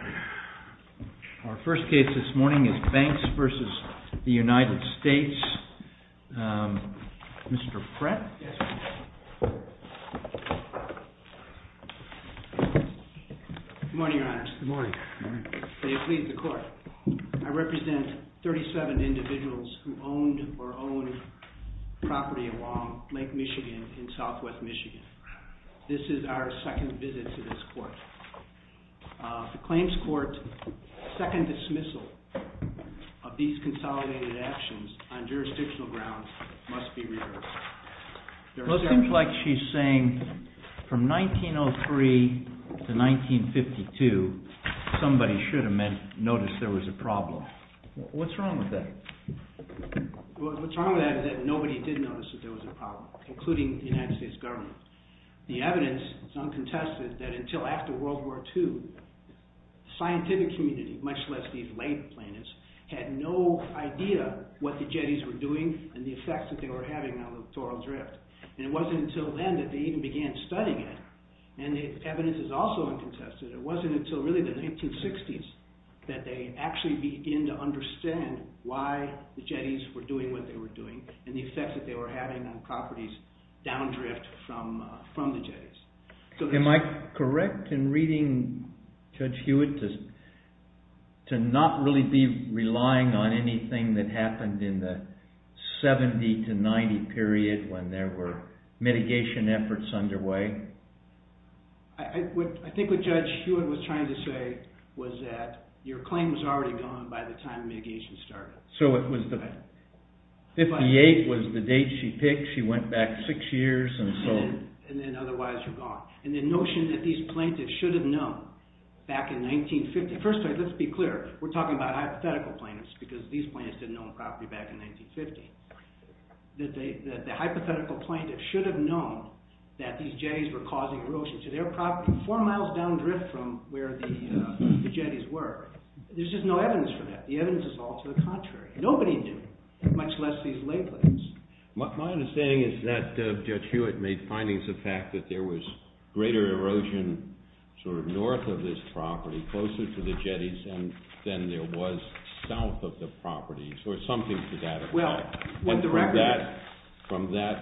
Our first case this morning is BANKS v. United States. Mr. Pratt? Good morning, Your Honor. Good morning. May it please the Court. I represent 37 individuals who owned or owned property along Lake Michigan in southwest Michigan. This is our second visit to this court. The claims court's second dismissal of these consolidated actions on jurisdictional grounds must be reversed. It seems like she's saying from 1903 to 1952, somebody should have noticed there was a problem. What's wrong with that? What's wrong with that is that nobody did notice that there was a problem, including the United States government. The evidence is uncontested that until after World War II, the scientific community, much less these late plaintiffs, had no idea what the jetties were doing and the effects that they were having on the littoral drift. And it wasn't until then that they even began studying it. And the evidence is also uncontested. It wasn't until really the 1960s that they actually began to understand why the jetties were doing what they were doing and the effects that they were having on properties down drift from the jetties. Am I correct in reading Judge Hewitt to not really be relying on anything that happened in the 70 to 90 period when there were mitigation efforts underway? I think what Judge Hewitt was trying to say was that your claim was already gone by the time mitigation started. So it was the 58 was the date she picked. She went back six years. And then otherwise you're gone. And the notion that these plaintiffs should have known back in 1950. First, let's be clear. We're talking about hypothetical plaintiffs because these plaintiffs didn't own property back in 1950. The hypothetical plaintiffs should have known that these jetties were causing erosion to their property four miles down drift from where the jetties were. There's just no evidence for that. The evidence is all to the contrary. Nobody knew, much less these lay plaintiffs. My understanding is that Judge Hewitt made findings of the fact that there was greater erosion sort of north of this property, closer to the jetties than there was south of the property, or something to that effect. From that,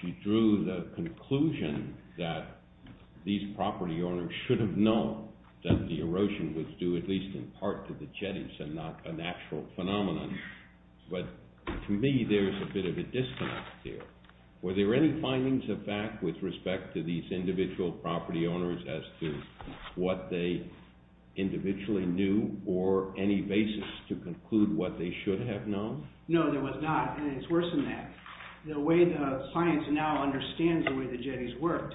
she drew the conclusion that these property owners should have known that the erosion was due at least in part to the jetties and not an actual phenomenon. But to me, there's a bit of a disconnect there. Were there any findings of fact with respect to these individual property owners as to what they individually knew or any basis to conclude what they should have known? No, there was not. And it's worse than that. The way the science now understands the way the jetties worked,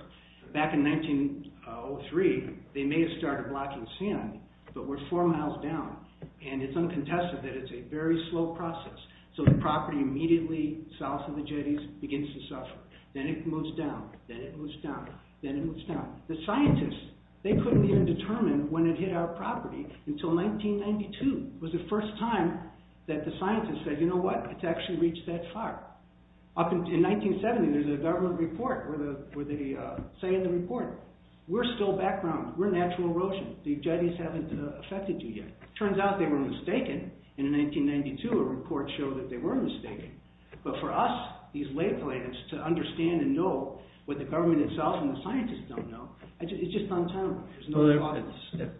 back in 1903, they may have started blocking sand, but we're four miles down. And it's uncontested that it's a very slow process. So the property immediately south of the jetties begins to suffer. Then it moves down. Then it moves down. Then it moves down. The scientists, they couldn't even determine when it hit our property until 1992. It was the first time that the scientists said, you know what? It's actually reached that far. In 1970, there's a government report where they say in the report, we're still background. We're natural erosion. The jetties haven't affected you yet. It turns out they were mistaken. And in 1992, a report showed that they were mistaken. But for us, these lay plans to understand and know what the government itself and the scientists don't know, it's just untimely.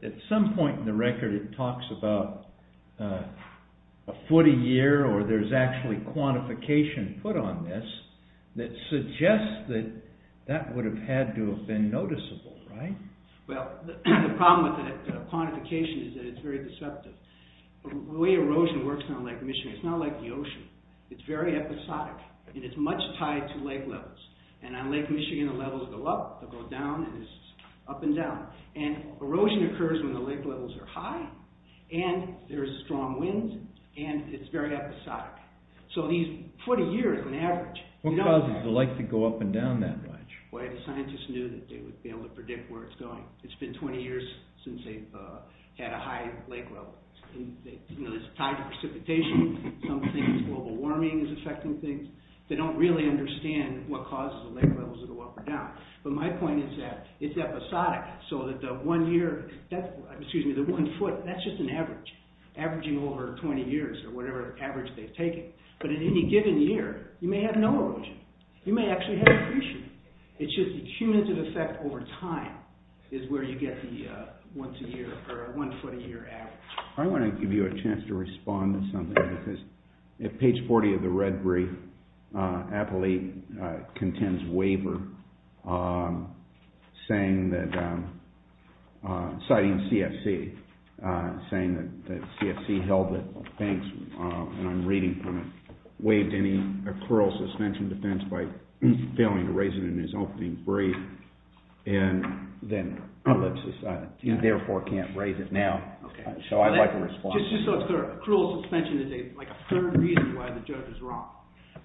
At some point in the record, it talks about a foot a year, or there's actually quantification put on this that suggests that that would have had to have been noticeable, right? Well, the problem with the quantification is that it's very deceptive. The way erosion works on Lake Michigan, it's not like the ocean. It's very episodic. And it's much tied to lake levels. And on Lake Michigan, the levels go up. They'll go down. And it's up and down. And erosion occurs when the lake levels are high. And there's strong winds. And it's very episodic. So these foot a year is an average. What causes the lake to go up and down that much? Well, the scientists knew that they would be able to predict where it's going. It's been 20 years since they've had a high lake level. It's tied to precipitation. Some think global warming is affecting things. They don't really understand what causes the lake levels to go up or down. But my point is that it's episodic. So that the one year, excuse me, the one foot, that's just an average, averaging over 20 years or whatever average they've taken. But at any given year, you may have no erosion. You may actually have precipitation. It's just the cumulative effect over time is where you get the once a year or one foot a year average. I want to give you a chance to respond to something. Because at page 40 of the red brief, Appley contends waiver, citing CFC. Saying that CFC held it. Thanks. And I'm reading from it. Waived any accrual suspension defense by failing to raise it in his opening brief. And then ellipses. You therefore can't raise it now. So I'd like a response. Just so it's clear. Accrual suspension is like a third reason why the judge is wrong.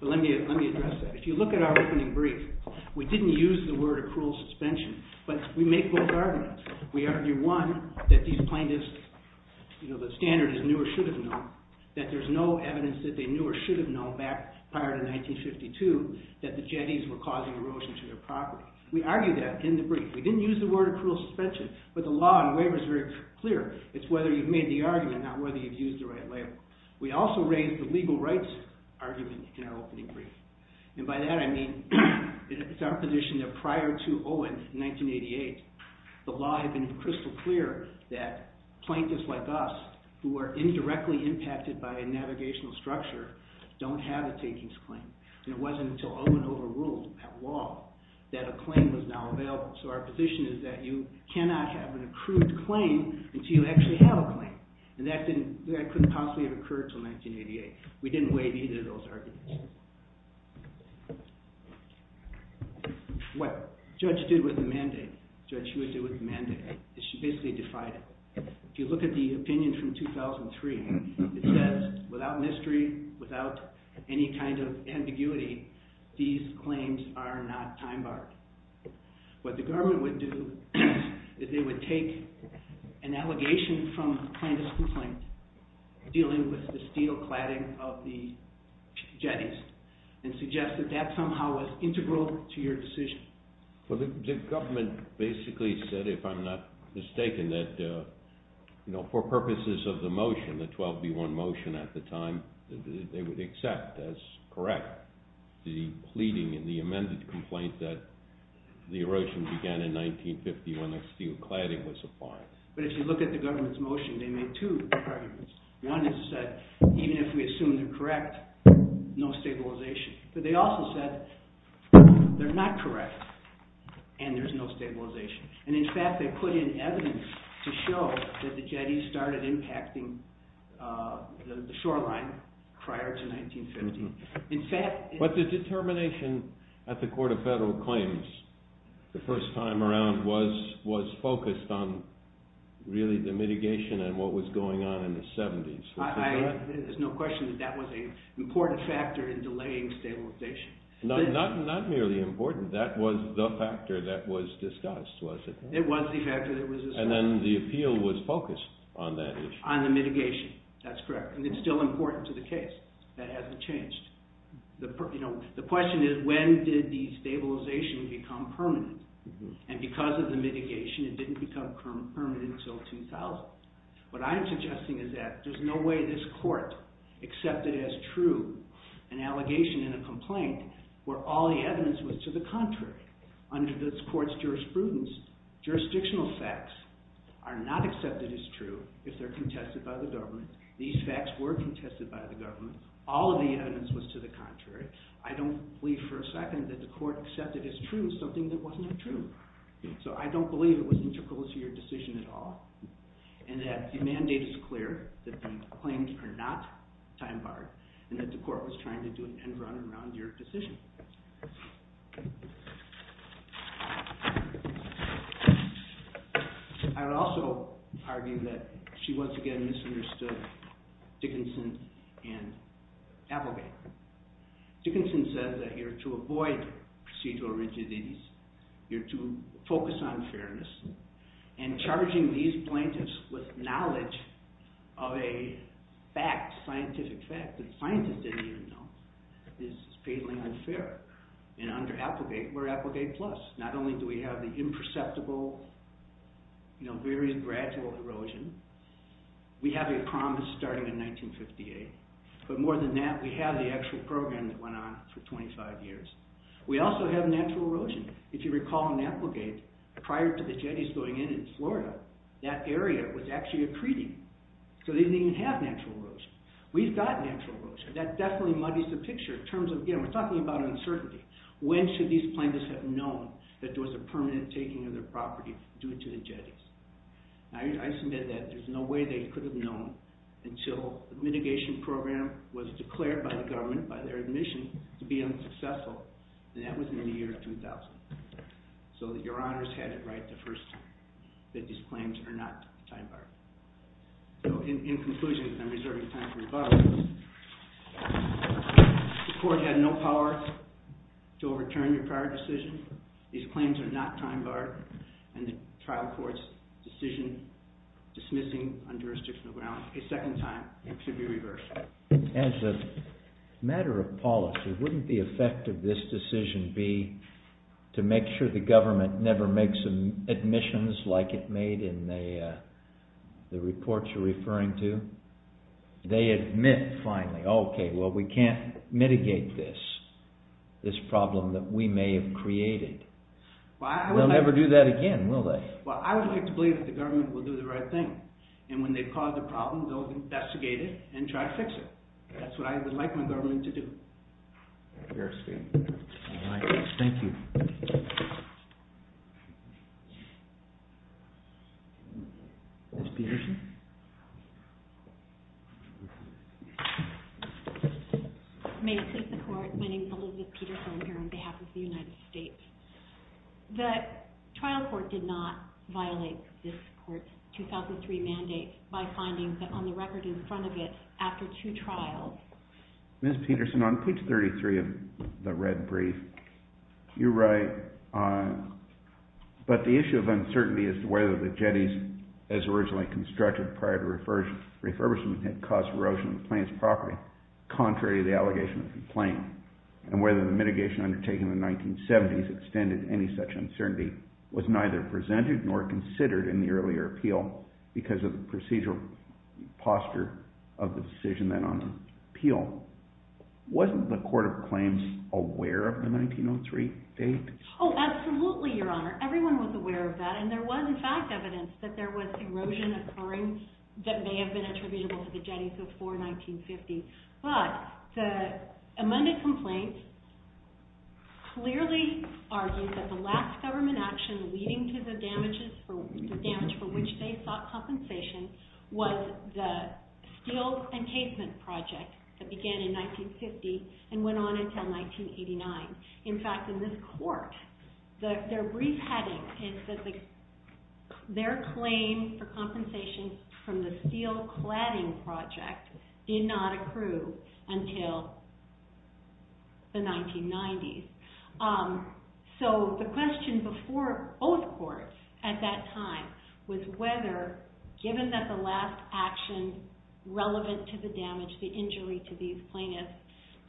But let me address that. If you look at our opening brief, we didn't use the word accrual suspension. But we make both arguments. We argue, one, that these plaintiffs, you know, the standard is knew or should have known. That there's no evidence that they knew or should have known back prior to 1952. That the jetties were causing erosion to their property. We argue that in the brief. We didn't use the word accrual suspension. But the law and waiver is very clear. It's whether you've made the argument, not whether you've used the right label. We also raised the legal rights argument in our opening brief. And by that I mean it's our position that prior to Owen in 1988, the law had been crystal clear that plaintiffs like us, who are indirectly impacted by a navigational structure, don't have a takings claim. And it wasn't until Owen overruled that law that a claim was now available. So our position is that you cannot have an accrued claim until you actually have a claim. And that couldn't possibly have occurred until 1988. We didn't waive either of those arguments. What the judge did with the mandate, the judge usually would do with the mandate, is she basically defied it. If you look at the opinion from 2003, it says without mystery, without any kind of ambiguity, these claims are not time-barred. What the government would do is they would take an allegation from a plaintiff's complaint dealing with the steel cladding of the jetties and suggest that that somehow was integral to your decision. The government basically said, if I'm not mistaken, that for purposes of the motion, the 12B1 motion at the time, they would accept as correct the pleading in the amended complaint that the erosion began in 1950 when the steel cladding was applied. But if you look at the government's motion, they made two arguments. One is that even if we assume they're correct, no stabilization. But they also said they're not correct and there's no stabilization. And in fact, they put in evidence to show that the jetties started impacting the shoreline prior to 1950. But the determination at the Court of Federal Claims the first time around was focused on really the mitigation and what was going on in the 70s. There's no question that that was an important factor in delaying stabilization. Not merely important, that was the factor that was discussed, was it? It was the factor that was discussed. And then the appeal was focused on that issue. On the mitigation, that's correct. And it's still important to the case. That hasn't changed. The question is, when did the stabilization become permanent? And because of the mitigation, it didn't become permanent until 2000. What I'm suggesting is that there's no way this court accepted as true an allegation in a complaint where all the evidence was to the contrary. Under this court's jurisprudence, jurisdictional facts are not accepted as true if they're contested by the government. These facts were contested by the government. All of the evidence was to the contrary. I don't believe for a second that the court accepted as true something that was not true. So I don't believe it was integral to your decision at all and that the mandate is clear that the claims are not time-barred and that the court was trying to do an end-run around your decision. I would also argue that she once again misunderstood Dickinson and Applegate. Dickinson says that you're to avoid procedural rigidities. You're to focus on fairness. And charging these plaintiffs with knowledge of a fact, scientific fact, that scientists didn't even know, is blatantly unfair. Under Applegate, we're Applegate Plus. Not only do we have the imperceptible, very gradual erosion. We have a promise starting in 1958. But more than that, we have the actual program that went on for 25 years. We also have natural erosion. If you recall in Applegate, prior to the jetties going in in Florida, that area was actually a treaty. So they didn't even have natural erosion. We've got natural erosion. That definitely muddies the picture in terms of, again, we're talking about uncertainty. When should these plaintiffs have known that there was a permanent taking of their property due to the jetties? I submit that there's no way they could have known until the mitigation program was declared by the government, by their admission, to be unsuccessful, and that was in the year 2000. So that your honors had it right the first time that these claims are not time-barred. In conclusion, because I'm reserving time for rebuttals, the court had no power to overturn your prior decision. These claims are not time-barred, and the trial court's decision dismissing on jurisdictional grounds a second time should be reversed. As a matter of policy, wouldn't the effect of this decision be to make sure the government never makes admissions like it made in the reports you're referring to? They admit finally, okay, well, we can't mitigate this, this problem that we may have created. They'll never do that again, will they? Well, I would like to believe that the government will do the right thing, and when they've caused a problem, they'll investigate it and try to fix it. That's what I would like my government to do. Fair speaking. Thank you. Ms. Peterson? May it please the Court, my name is Elizabeth Peterson. I'm here on behalf of the United States. The trial court did not violate this court's 2003 mandate by finding that on the record in front of it, after two trials. Ms. Peterson, on page 33 of the red brief, you write, but the issue of uncertainty as to whether the jetties, as originally constructed prior to refurbishment, had caused erosion of the plane's property, contrary to the allegation of the plane, and whether the mitigation undertaken in the 1970s extended any such uncertainty, was neither presented nor considered in the earlier appeal because of the procedural posture of the decision then on the appeal. Wasn't the Court of Claims aware of the 1903 date? Oh, absolutely, Your Honor. Everyone was aware of that, and there was, in fact, evidence that there was erosion occurring that may have been attributable to the jetties before 1950. But the amended complaint clearly argues that the last government action leading to the damage for which they sought compensation was the steel encasement project that began in 1950 and went on until 1989. In fact, in this court, their brief heading is that their claim for compensation from the steel cladding project did not accrue until the 1990s. So the question before both courts at that time was whether, given that the last action relevant to the damage, the injury to these plaintiffs,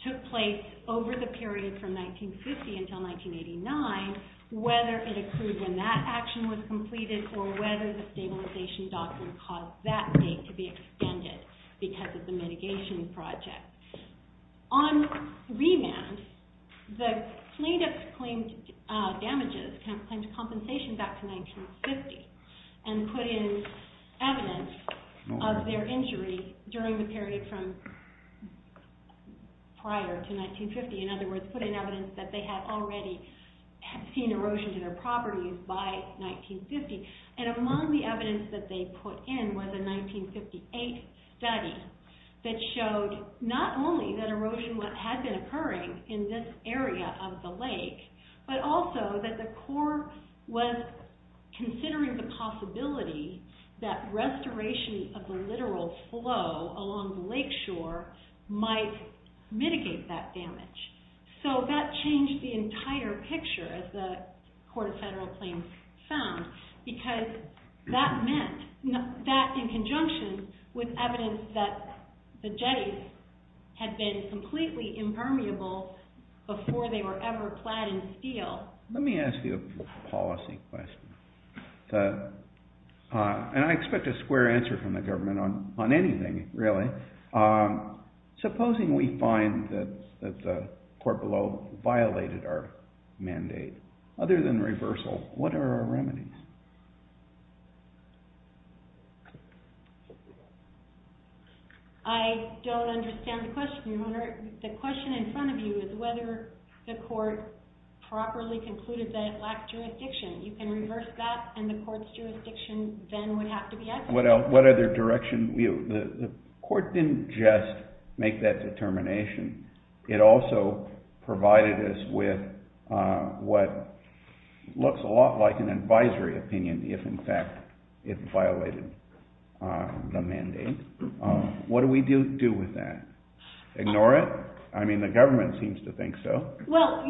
took place over the period from 1950 until 1989, whether it accrued when that action was completed or whether the stabilization doctrine caused that date to be extended because of the mitigation project. On remand, the plaintiffs claimed damages, claimed compensation back to 1950, and put in evidence of their injury during the period prior to 1950. In other words, put in evidence that they had already seen erosion to their properties by 1950. And among the evidence that they put in was a 1958 study that showed not only that erosion had been occurring in this area of the lake, but also that the Corps was considering the possibility that restoration of the littoral flow along the lake shore might mitigate that damage. So that changed the entire picture, as the Court of Federal Claims found, because that meant that in conjunction with evidence that the jetties had been completely impermeable before they were ever plowed in steel. Let me ask you a policy question. And I expect a square answer from the government on anything, really. Supposing we find that the court below violated our mandate, other than reversal, what are our remedies? I don't understand the question. Your Honor, the question in front of you is whether the court properly concluded that it lacked jurisdiction. You can reverse that, and the court's jurisdiction then would have to be added. What other direction? The court didn't just make that determination. It also provided us with what looks a lot like an advisory opinion if, in fact, it violated the mandate. What do we do with that? Ignore it? I mean, the government seems to think so. Well,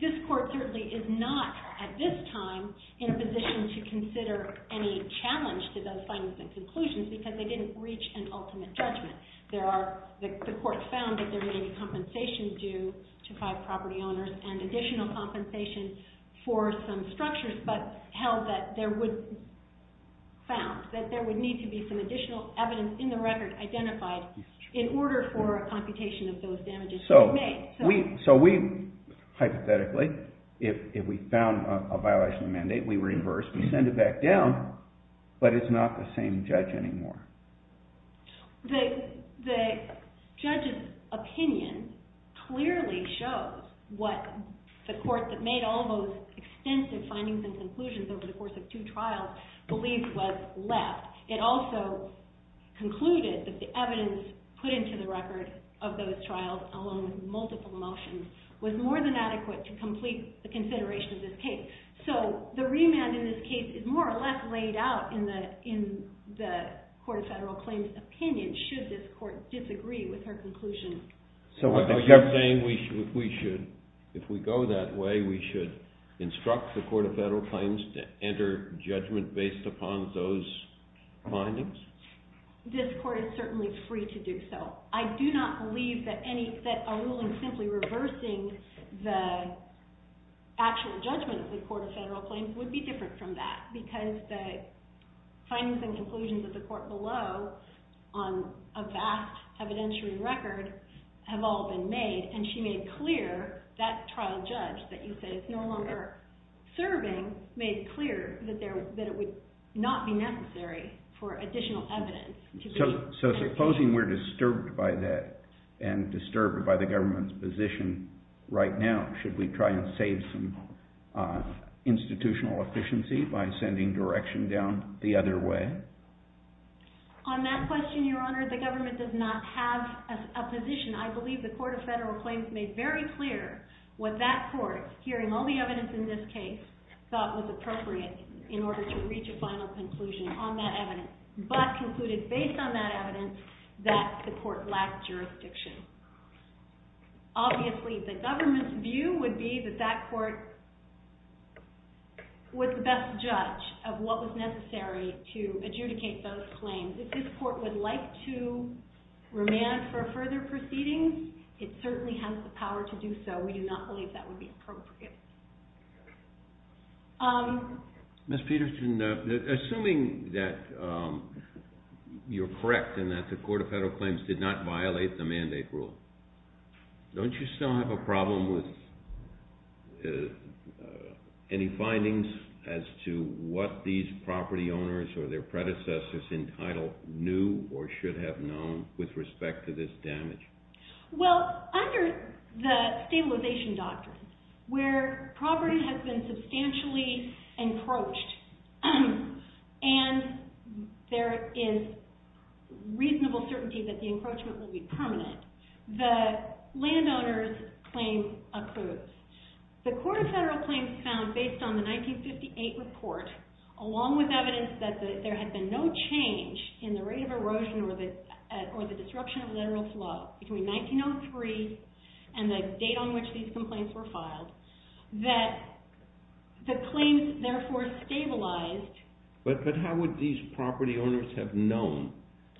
this court certainly is not, at this time, in a position to consider any challenge to those findings and conclusions because they didn't reach an ultimate judgment. The court found that there may be compensation due to five property owners and additional compensation for some structures, but held that there would be some additional evidence in the record identified in order for a computation of those damages to be made. So we, hypothetically, if we found a violation of the mandate, we reverse, we send it back down, but it's not the same judge anymore. The judge's opinion clearly shows what the court that made all those extensive findings and conclusions over the course of two trials believes was left. It also concluded that the evidence put into the record of those trials, along with multiple motions, was more than adequate to complete the consideration of this case. So the remand in this case is more or less laid out in the Court of Federal Claims' opinion, should this court disagree with her conclusion. So what you're saying, if we go that way, we should instruct the Court of Federal Claims to enter judgment based upon those findings? This court is certainly free to do so. I do not believe that a ruling simply reversing the actual judgment of the Court of Federal Claims would be different from that, because the findings and conclusions of the court below on a vast evidentiary record have all been made, and she made clear, that trial judge that you said is no longer serving, made clear that it would not be necessary for additional evidence. So supposing we're disturbed by that, and disturbed by the government's position right now, should we try and save some institutional efficiency by sending direction down the other way? On that question, Your Honor, the government does not have a position. I believe the Court of Federal Claims made very clear what that court, hearing all the evidence in this case, thought was appropriate in order to reach a final conclusion on that evidence, but concluded based on that evidence that the court lacked jurisdiction. Obviously, the government's view would be that that court was the best judge of what was necessary to adjudicate those claims. If this court would like to remand for further proceedings, it certainly has the power to do so. We do not believe that would be appropriate. Ms. Peterson, assuming that you're correct and that the Court of Federal Claims did not violate the mandate rule, don't you still have a problem with any findings as to what these property owners or their predecessors entitled knew or should have known with respect to this damage? Well, under the stabilization doctrine, where property has been substantially encroached and there is reasonable certainty that the encroachment will be permanent, the landowner's claim accrues. The Court of Federal Claims found, based on the 1958 report, along with evidence that there had been no change in the rate of erosion or the disruption of lateral flow between 1903 and the date on which these complaints were filed, that the claims therefore stabilized. But how would these property owners have known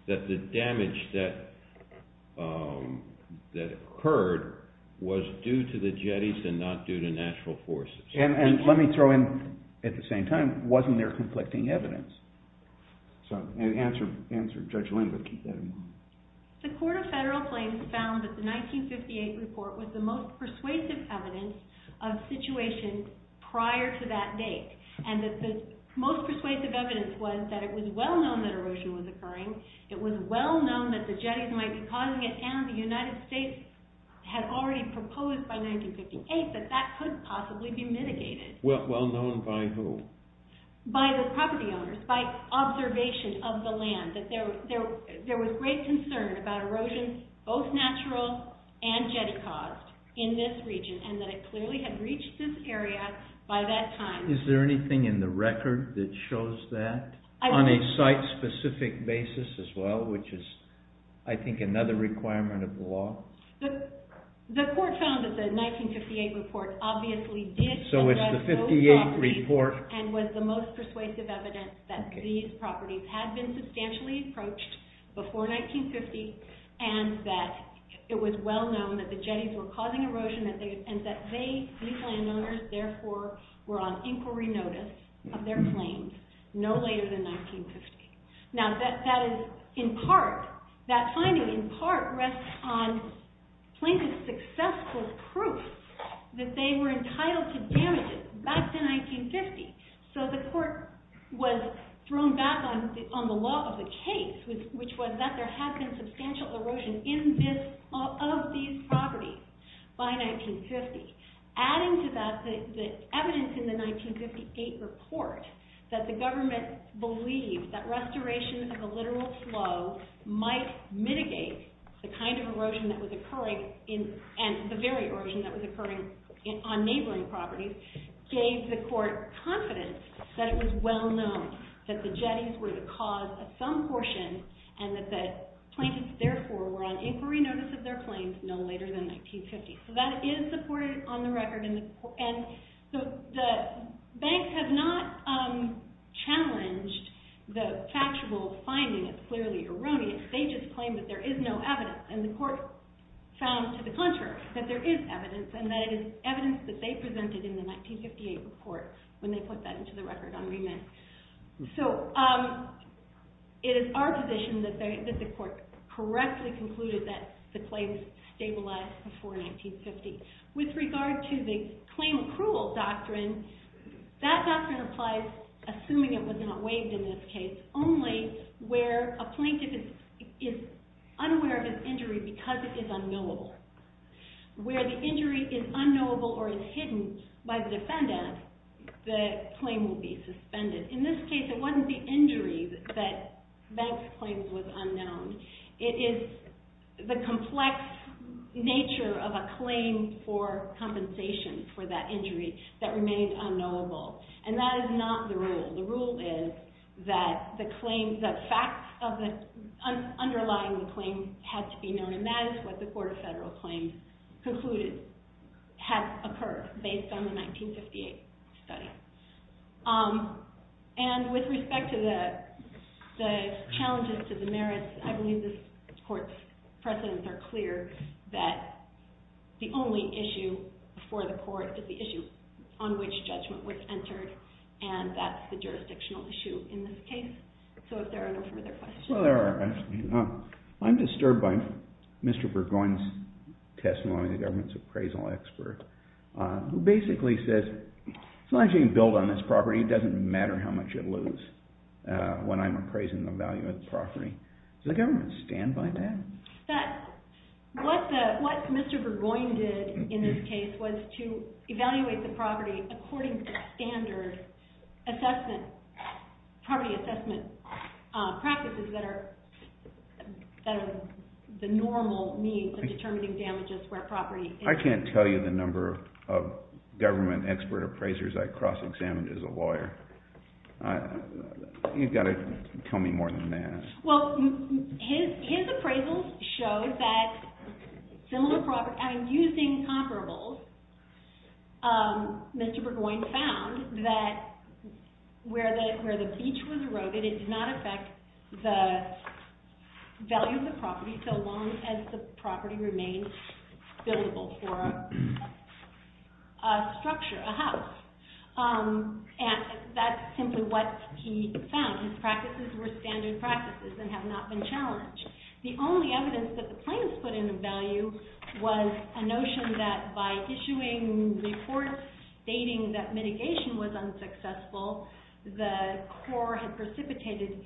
that the damage that occurred was due to the jetties and not due to natural forces? And let me throw in, at the same time, wasn't there conflicting evidence? Answer, Judge Lindberg, keep that in mind. The Court of Federal Claims found that the 1958 report was the most persuasive evidence of situations prior to that date and that the most persuasive evidence was that it was well known that erosion was occurring. It was well known that the jetties might be causing it and the United States had already proposed by 1958 that that could possibly be mitigated. Well known by who? By the property owners, by observation of the land, that there was great concern about erosion, both natural and jetty caused, in this region and that it clearly had reached this area by that time. Is there anything in the record that shows that? On a site-specific basis as well, which is, I think, another requirement of the law? The Court found that the 1958 report obviously did suggest those properties and was the most persuasive evidence that these properties had been substantially approached before 1950 and that it was well known and that these landowners, therefore, were on inquiry notice of their claims no later than 1950. Now, that is in part, that finding in part rests on plaintiff's successful proof that they were entitled to damages back to 1950. So the Court was thrown back on the law of the case, which was that there had been substantial erosion of these properties by 1950. Adding to that the evidence in the 1958 report that the government believed that restoration of the literal flow might mitigate the kind of erosion that was occurring and the very erosion that was occurring on neighboring properties gave the Court confidence that it was well known that the jetties were the cause of some portion and that the plaintiffs, therefore, were on inquiry notice of their claims no later than 1950. So that is supported on the record. And so the banks have not challenged the factual finding as clearly erroneous. They just claim that there is no evidence and the Court found to the contrary that there is evidence and that it is evidence that they presented in the 1958 report when they put that into the record on remit. So it is our position that the Court correctly concluded that the claims stabilized before 1950. With regard to the claim accrual doctrine, that doctrine applies assuming it was not waived in this case, only where a plaintiff is unaware of his injury because it is unknowable. Where the injury is unknowable or is hidden by the defendant, the claim will be suspended. In this case, it wasn't the injury that Bank's claim was unknown. It is the complex nature of a claim for compensation for that injury that remains unknowable. And that is not the rule. The rule is that the facts underlying the claim have to be known. And that is what the Court of Federal Claims concluded has occurred based on the 1958 study. And with respect to the challenges to the merits, I believe this Court's precedents are clear that the only issue for the Court is the issue on which judgment was entered. And that's the jurisdictional issue in this case. So if there are no further questions. I'm disturbed by Mr. Burgoyne's testimony, the government's appraisal expert, who basically says, as long as you can build on this property, it doesn't matter how much you lose when I'm appraising and evaluating the property. Does the government stand by that? What Mr. Burgoyne did in this case was to evaluate the property according to standard property assessment practices that are the normal means of determining damages where property is. I can't tell you the number of government expert appraisers I cross-examined as a lawyer. You've got to tell me more than that. Well, his appraisals showed that using comparables, Mr. Burgoyne found that where the beach was eroded, it did not affect the value of the property so long as the property remained buildable for a structure, a house. And that's simply what he found. His practices were standard practices and have not been challenged. The only evidence that the plaintiffs put in a value was a notion that by issuing reports stating that mitigation was unsuccessful, the court had precipitated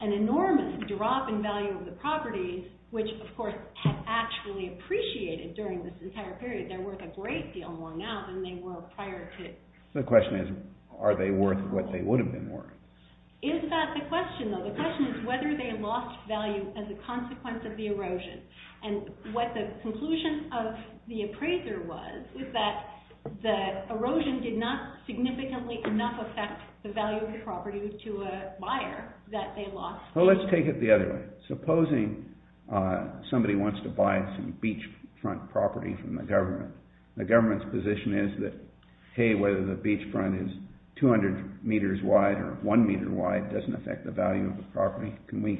an enormous drop in value of the property, which, of course, had actually appreciated during this entire period. They're worth a great deal more now than they were prior to it. The question is, are they worth what they would have been worth? Is that the question, though? The question is whether they lost value as a consequence of the erosion. And what the conclusion of the appraiser was is that the erosion did not significantly enough affect the value of the property to a buyer that they lost. Well, let's take it the other way. Supposing somebody wants to buy some beachfront property from the government. The government's position is that, hey, whether the beachfront is 200 meters wide or one meter wide doesn't affect the value of the property. Can we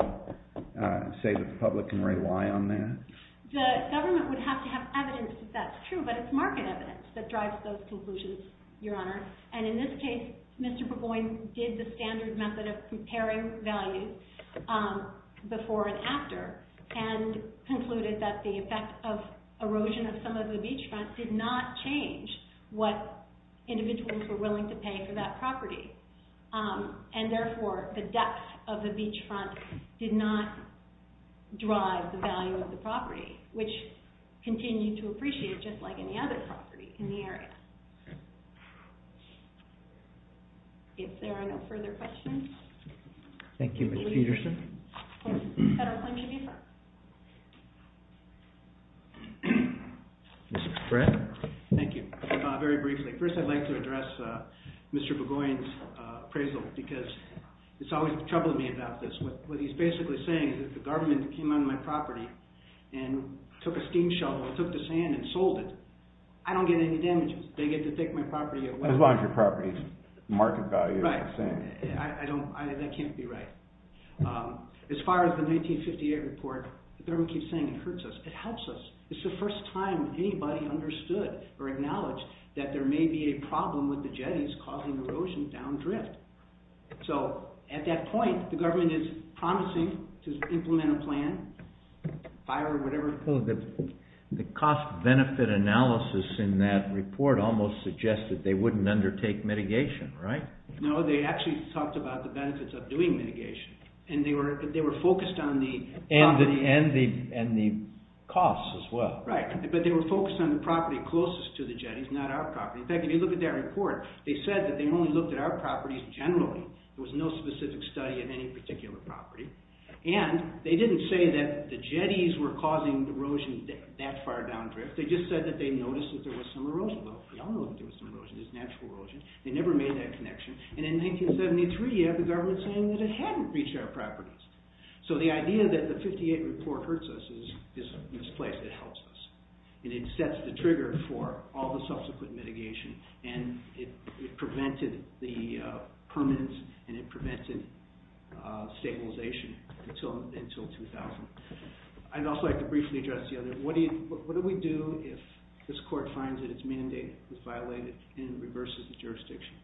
say that the public can rely on that? The government would have to have evidence that that's true. But it's market evidence that drives those conclusions, Your Honor. And in this case, Mr. Burgoyne did the standard method of comparing value before and after and concluded that the effect of erosion of some of the beachfront did not change what individuals were willing to pay for that property. And therefore, the depth of the beachfront did not drive the value of the property, which continued to appreciate it just like any other property in the area. If there are no further questions. Thank you, Ms. Peterson. Federal Claimant, please. Mr. Spratt. Thank you. Very briefly. First, I'd like to address Mr. Burgoyne's appraisal because it's always troubled me about this. What he's basically saying is if the government came onto my property and took a steam shovel and took the sand and sold it, I don't get any damages. They get to take my property away. As long as your property's market value is the same. Right. That can't be right. As far as the 1958 report, the government keeps saying it hurts us. It helps us. It's the first time anybody understood or acknowledged that there may be a problem with the jetties causing erosion down drift. So at that point, the government is promising to implement a plan, fire or whatever. The cost-benefit analysis in that report almost suggests that they wouldn't undertake mitigation, right? No, they actually talked about the benefits of doing mitigation. And they were focused on the property. And the costs as well. Right. But they were focused on the property closest to the jetties, not our property. In fact, if you look at that report, they said that they only looked at our properties generally. There was no specific study of any particular property. And they didn't say that the jetties were causing erosion that far down drift. They just said that they noticed that there was some erosion. The only one that there was some erosion is natural erosion. They never made that connection. And in 1973, you have the government saying that it hadn't reached our properties. So the idea that the 58 report hurts us is misplaced. It helps us. And it sets the trigger for all the subsequent mitigation. And it prevented the permanence. And it prevented stabilization until 2000. I'd also like to briefly address the other. What do we do if this court finds that its mandate was violated and reverses the jurisdiction?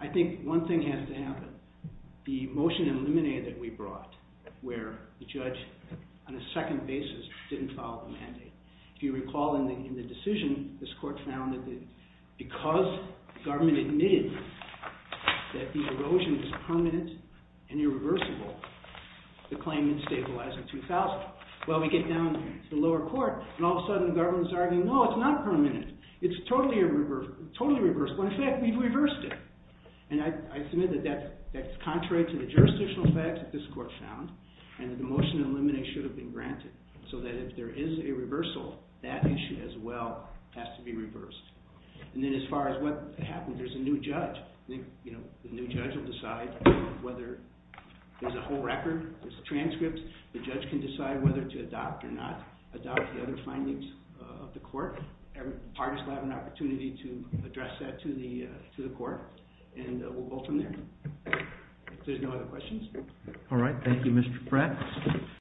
I think one thing has to happen. The motion in Lemonnier that we brought, where the judge, on a second basis, didn't follow the mandate. If you recall in the decision, this court found that because the government admitted that the erosion was permanent and irreversible, the claim didn't stabilize in 2000. Well, we get down to the lower court. And all of a sudden, the government's arguing, no, it's not permanent. It's totally irreversible. In fact, we've reversed it. And I submit that that's contrary to the jurisdictional facts that this court found. And the motion in Lemonnier should have been granted. So that if there is a reversal, that issue as well has to be reversed. And then as far as what happens, there's a new judge. The new judge will decide whether there's a whole record, there's transcripts. The judge can decide whether to adopt or not, adopt the other findings of the court. And parties will have an opportunity to address that to the court. And we'll go from there. If there's no other questions. Thank you, Mr. Pratt.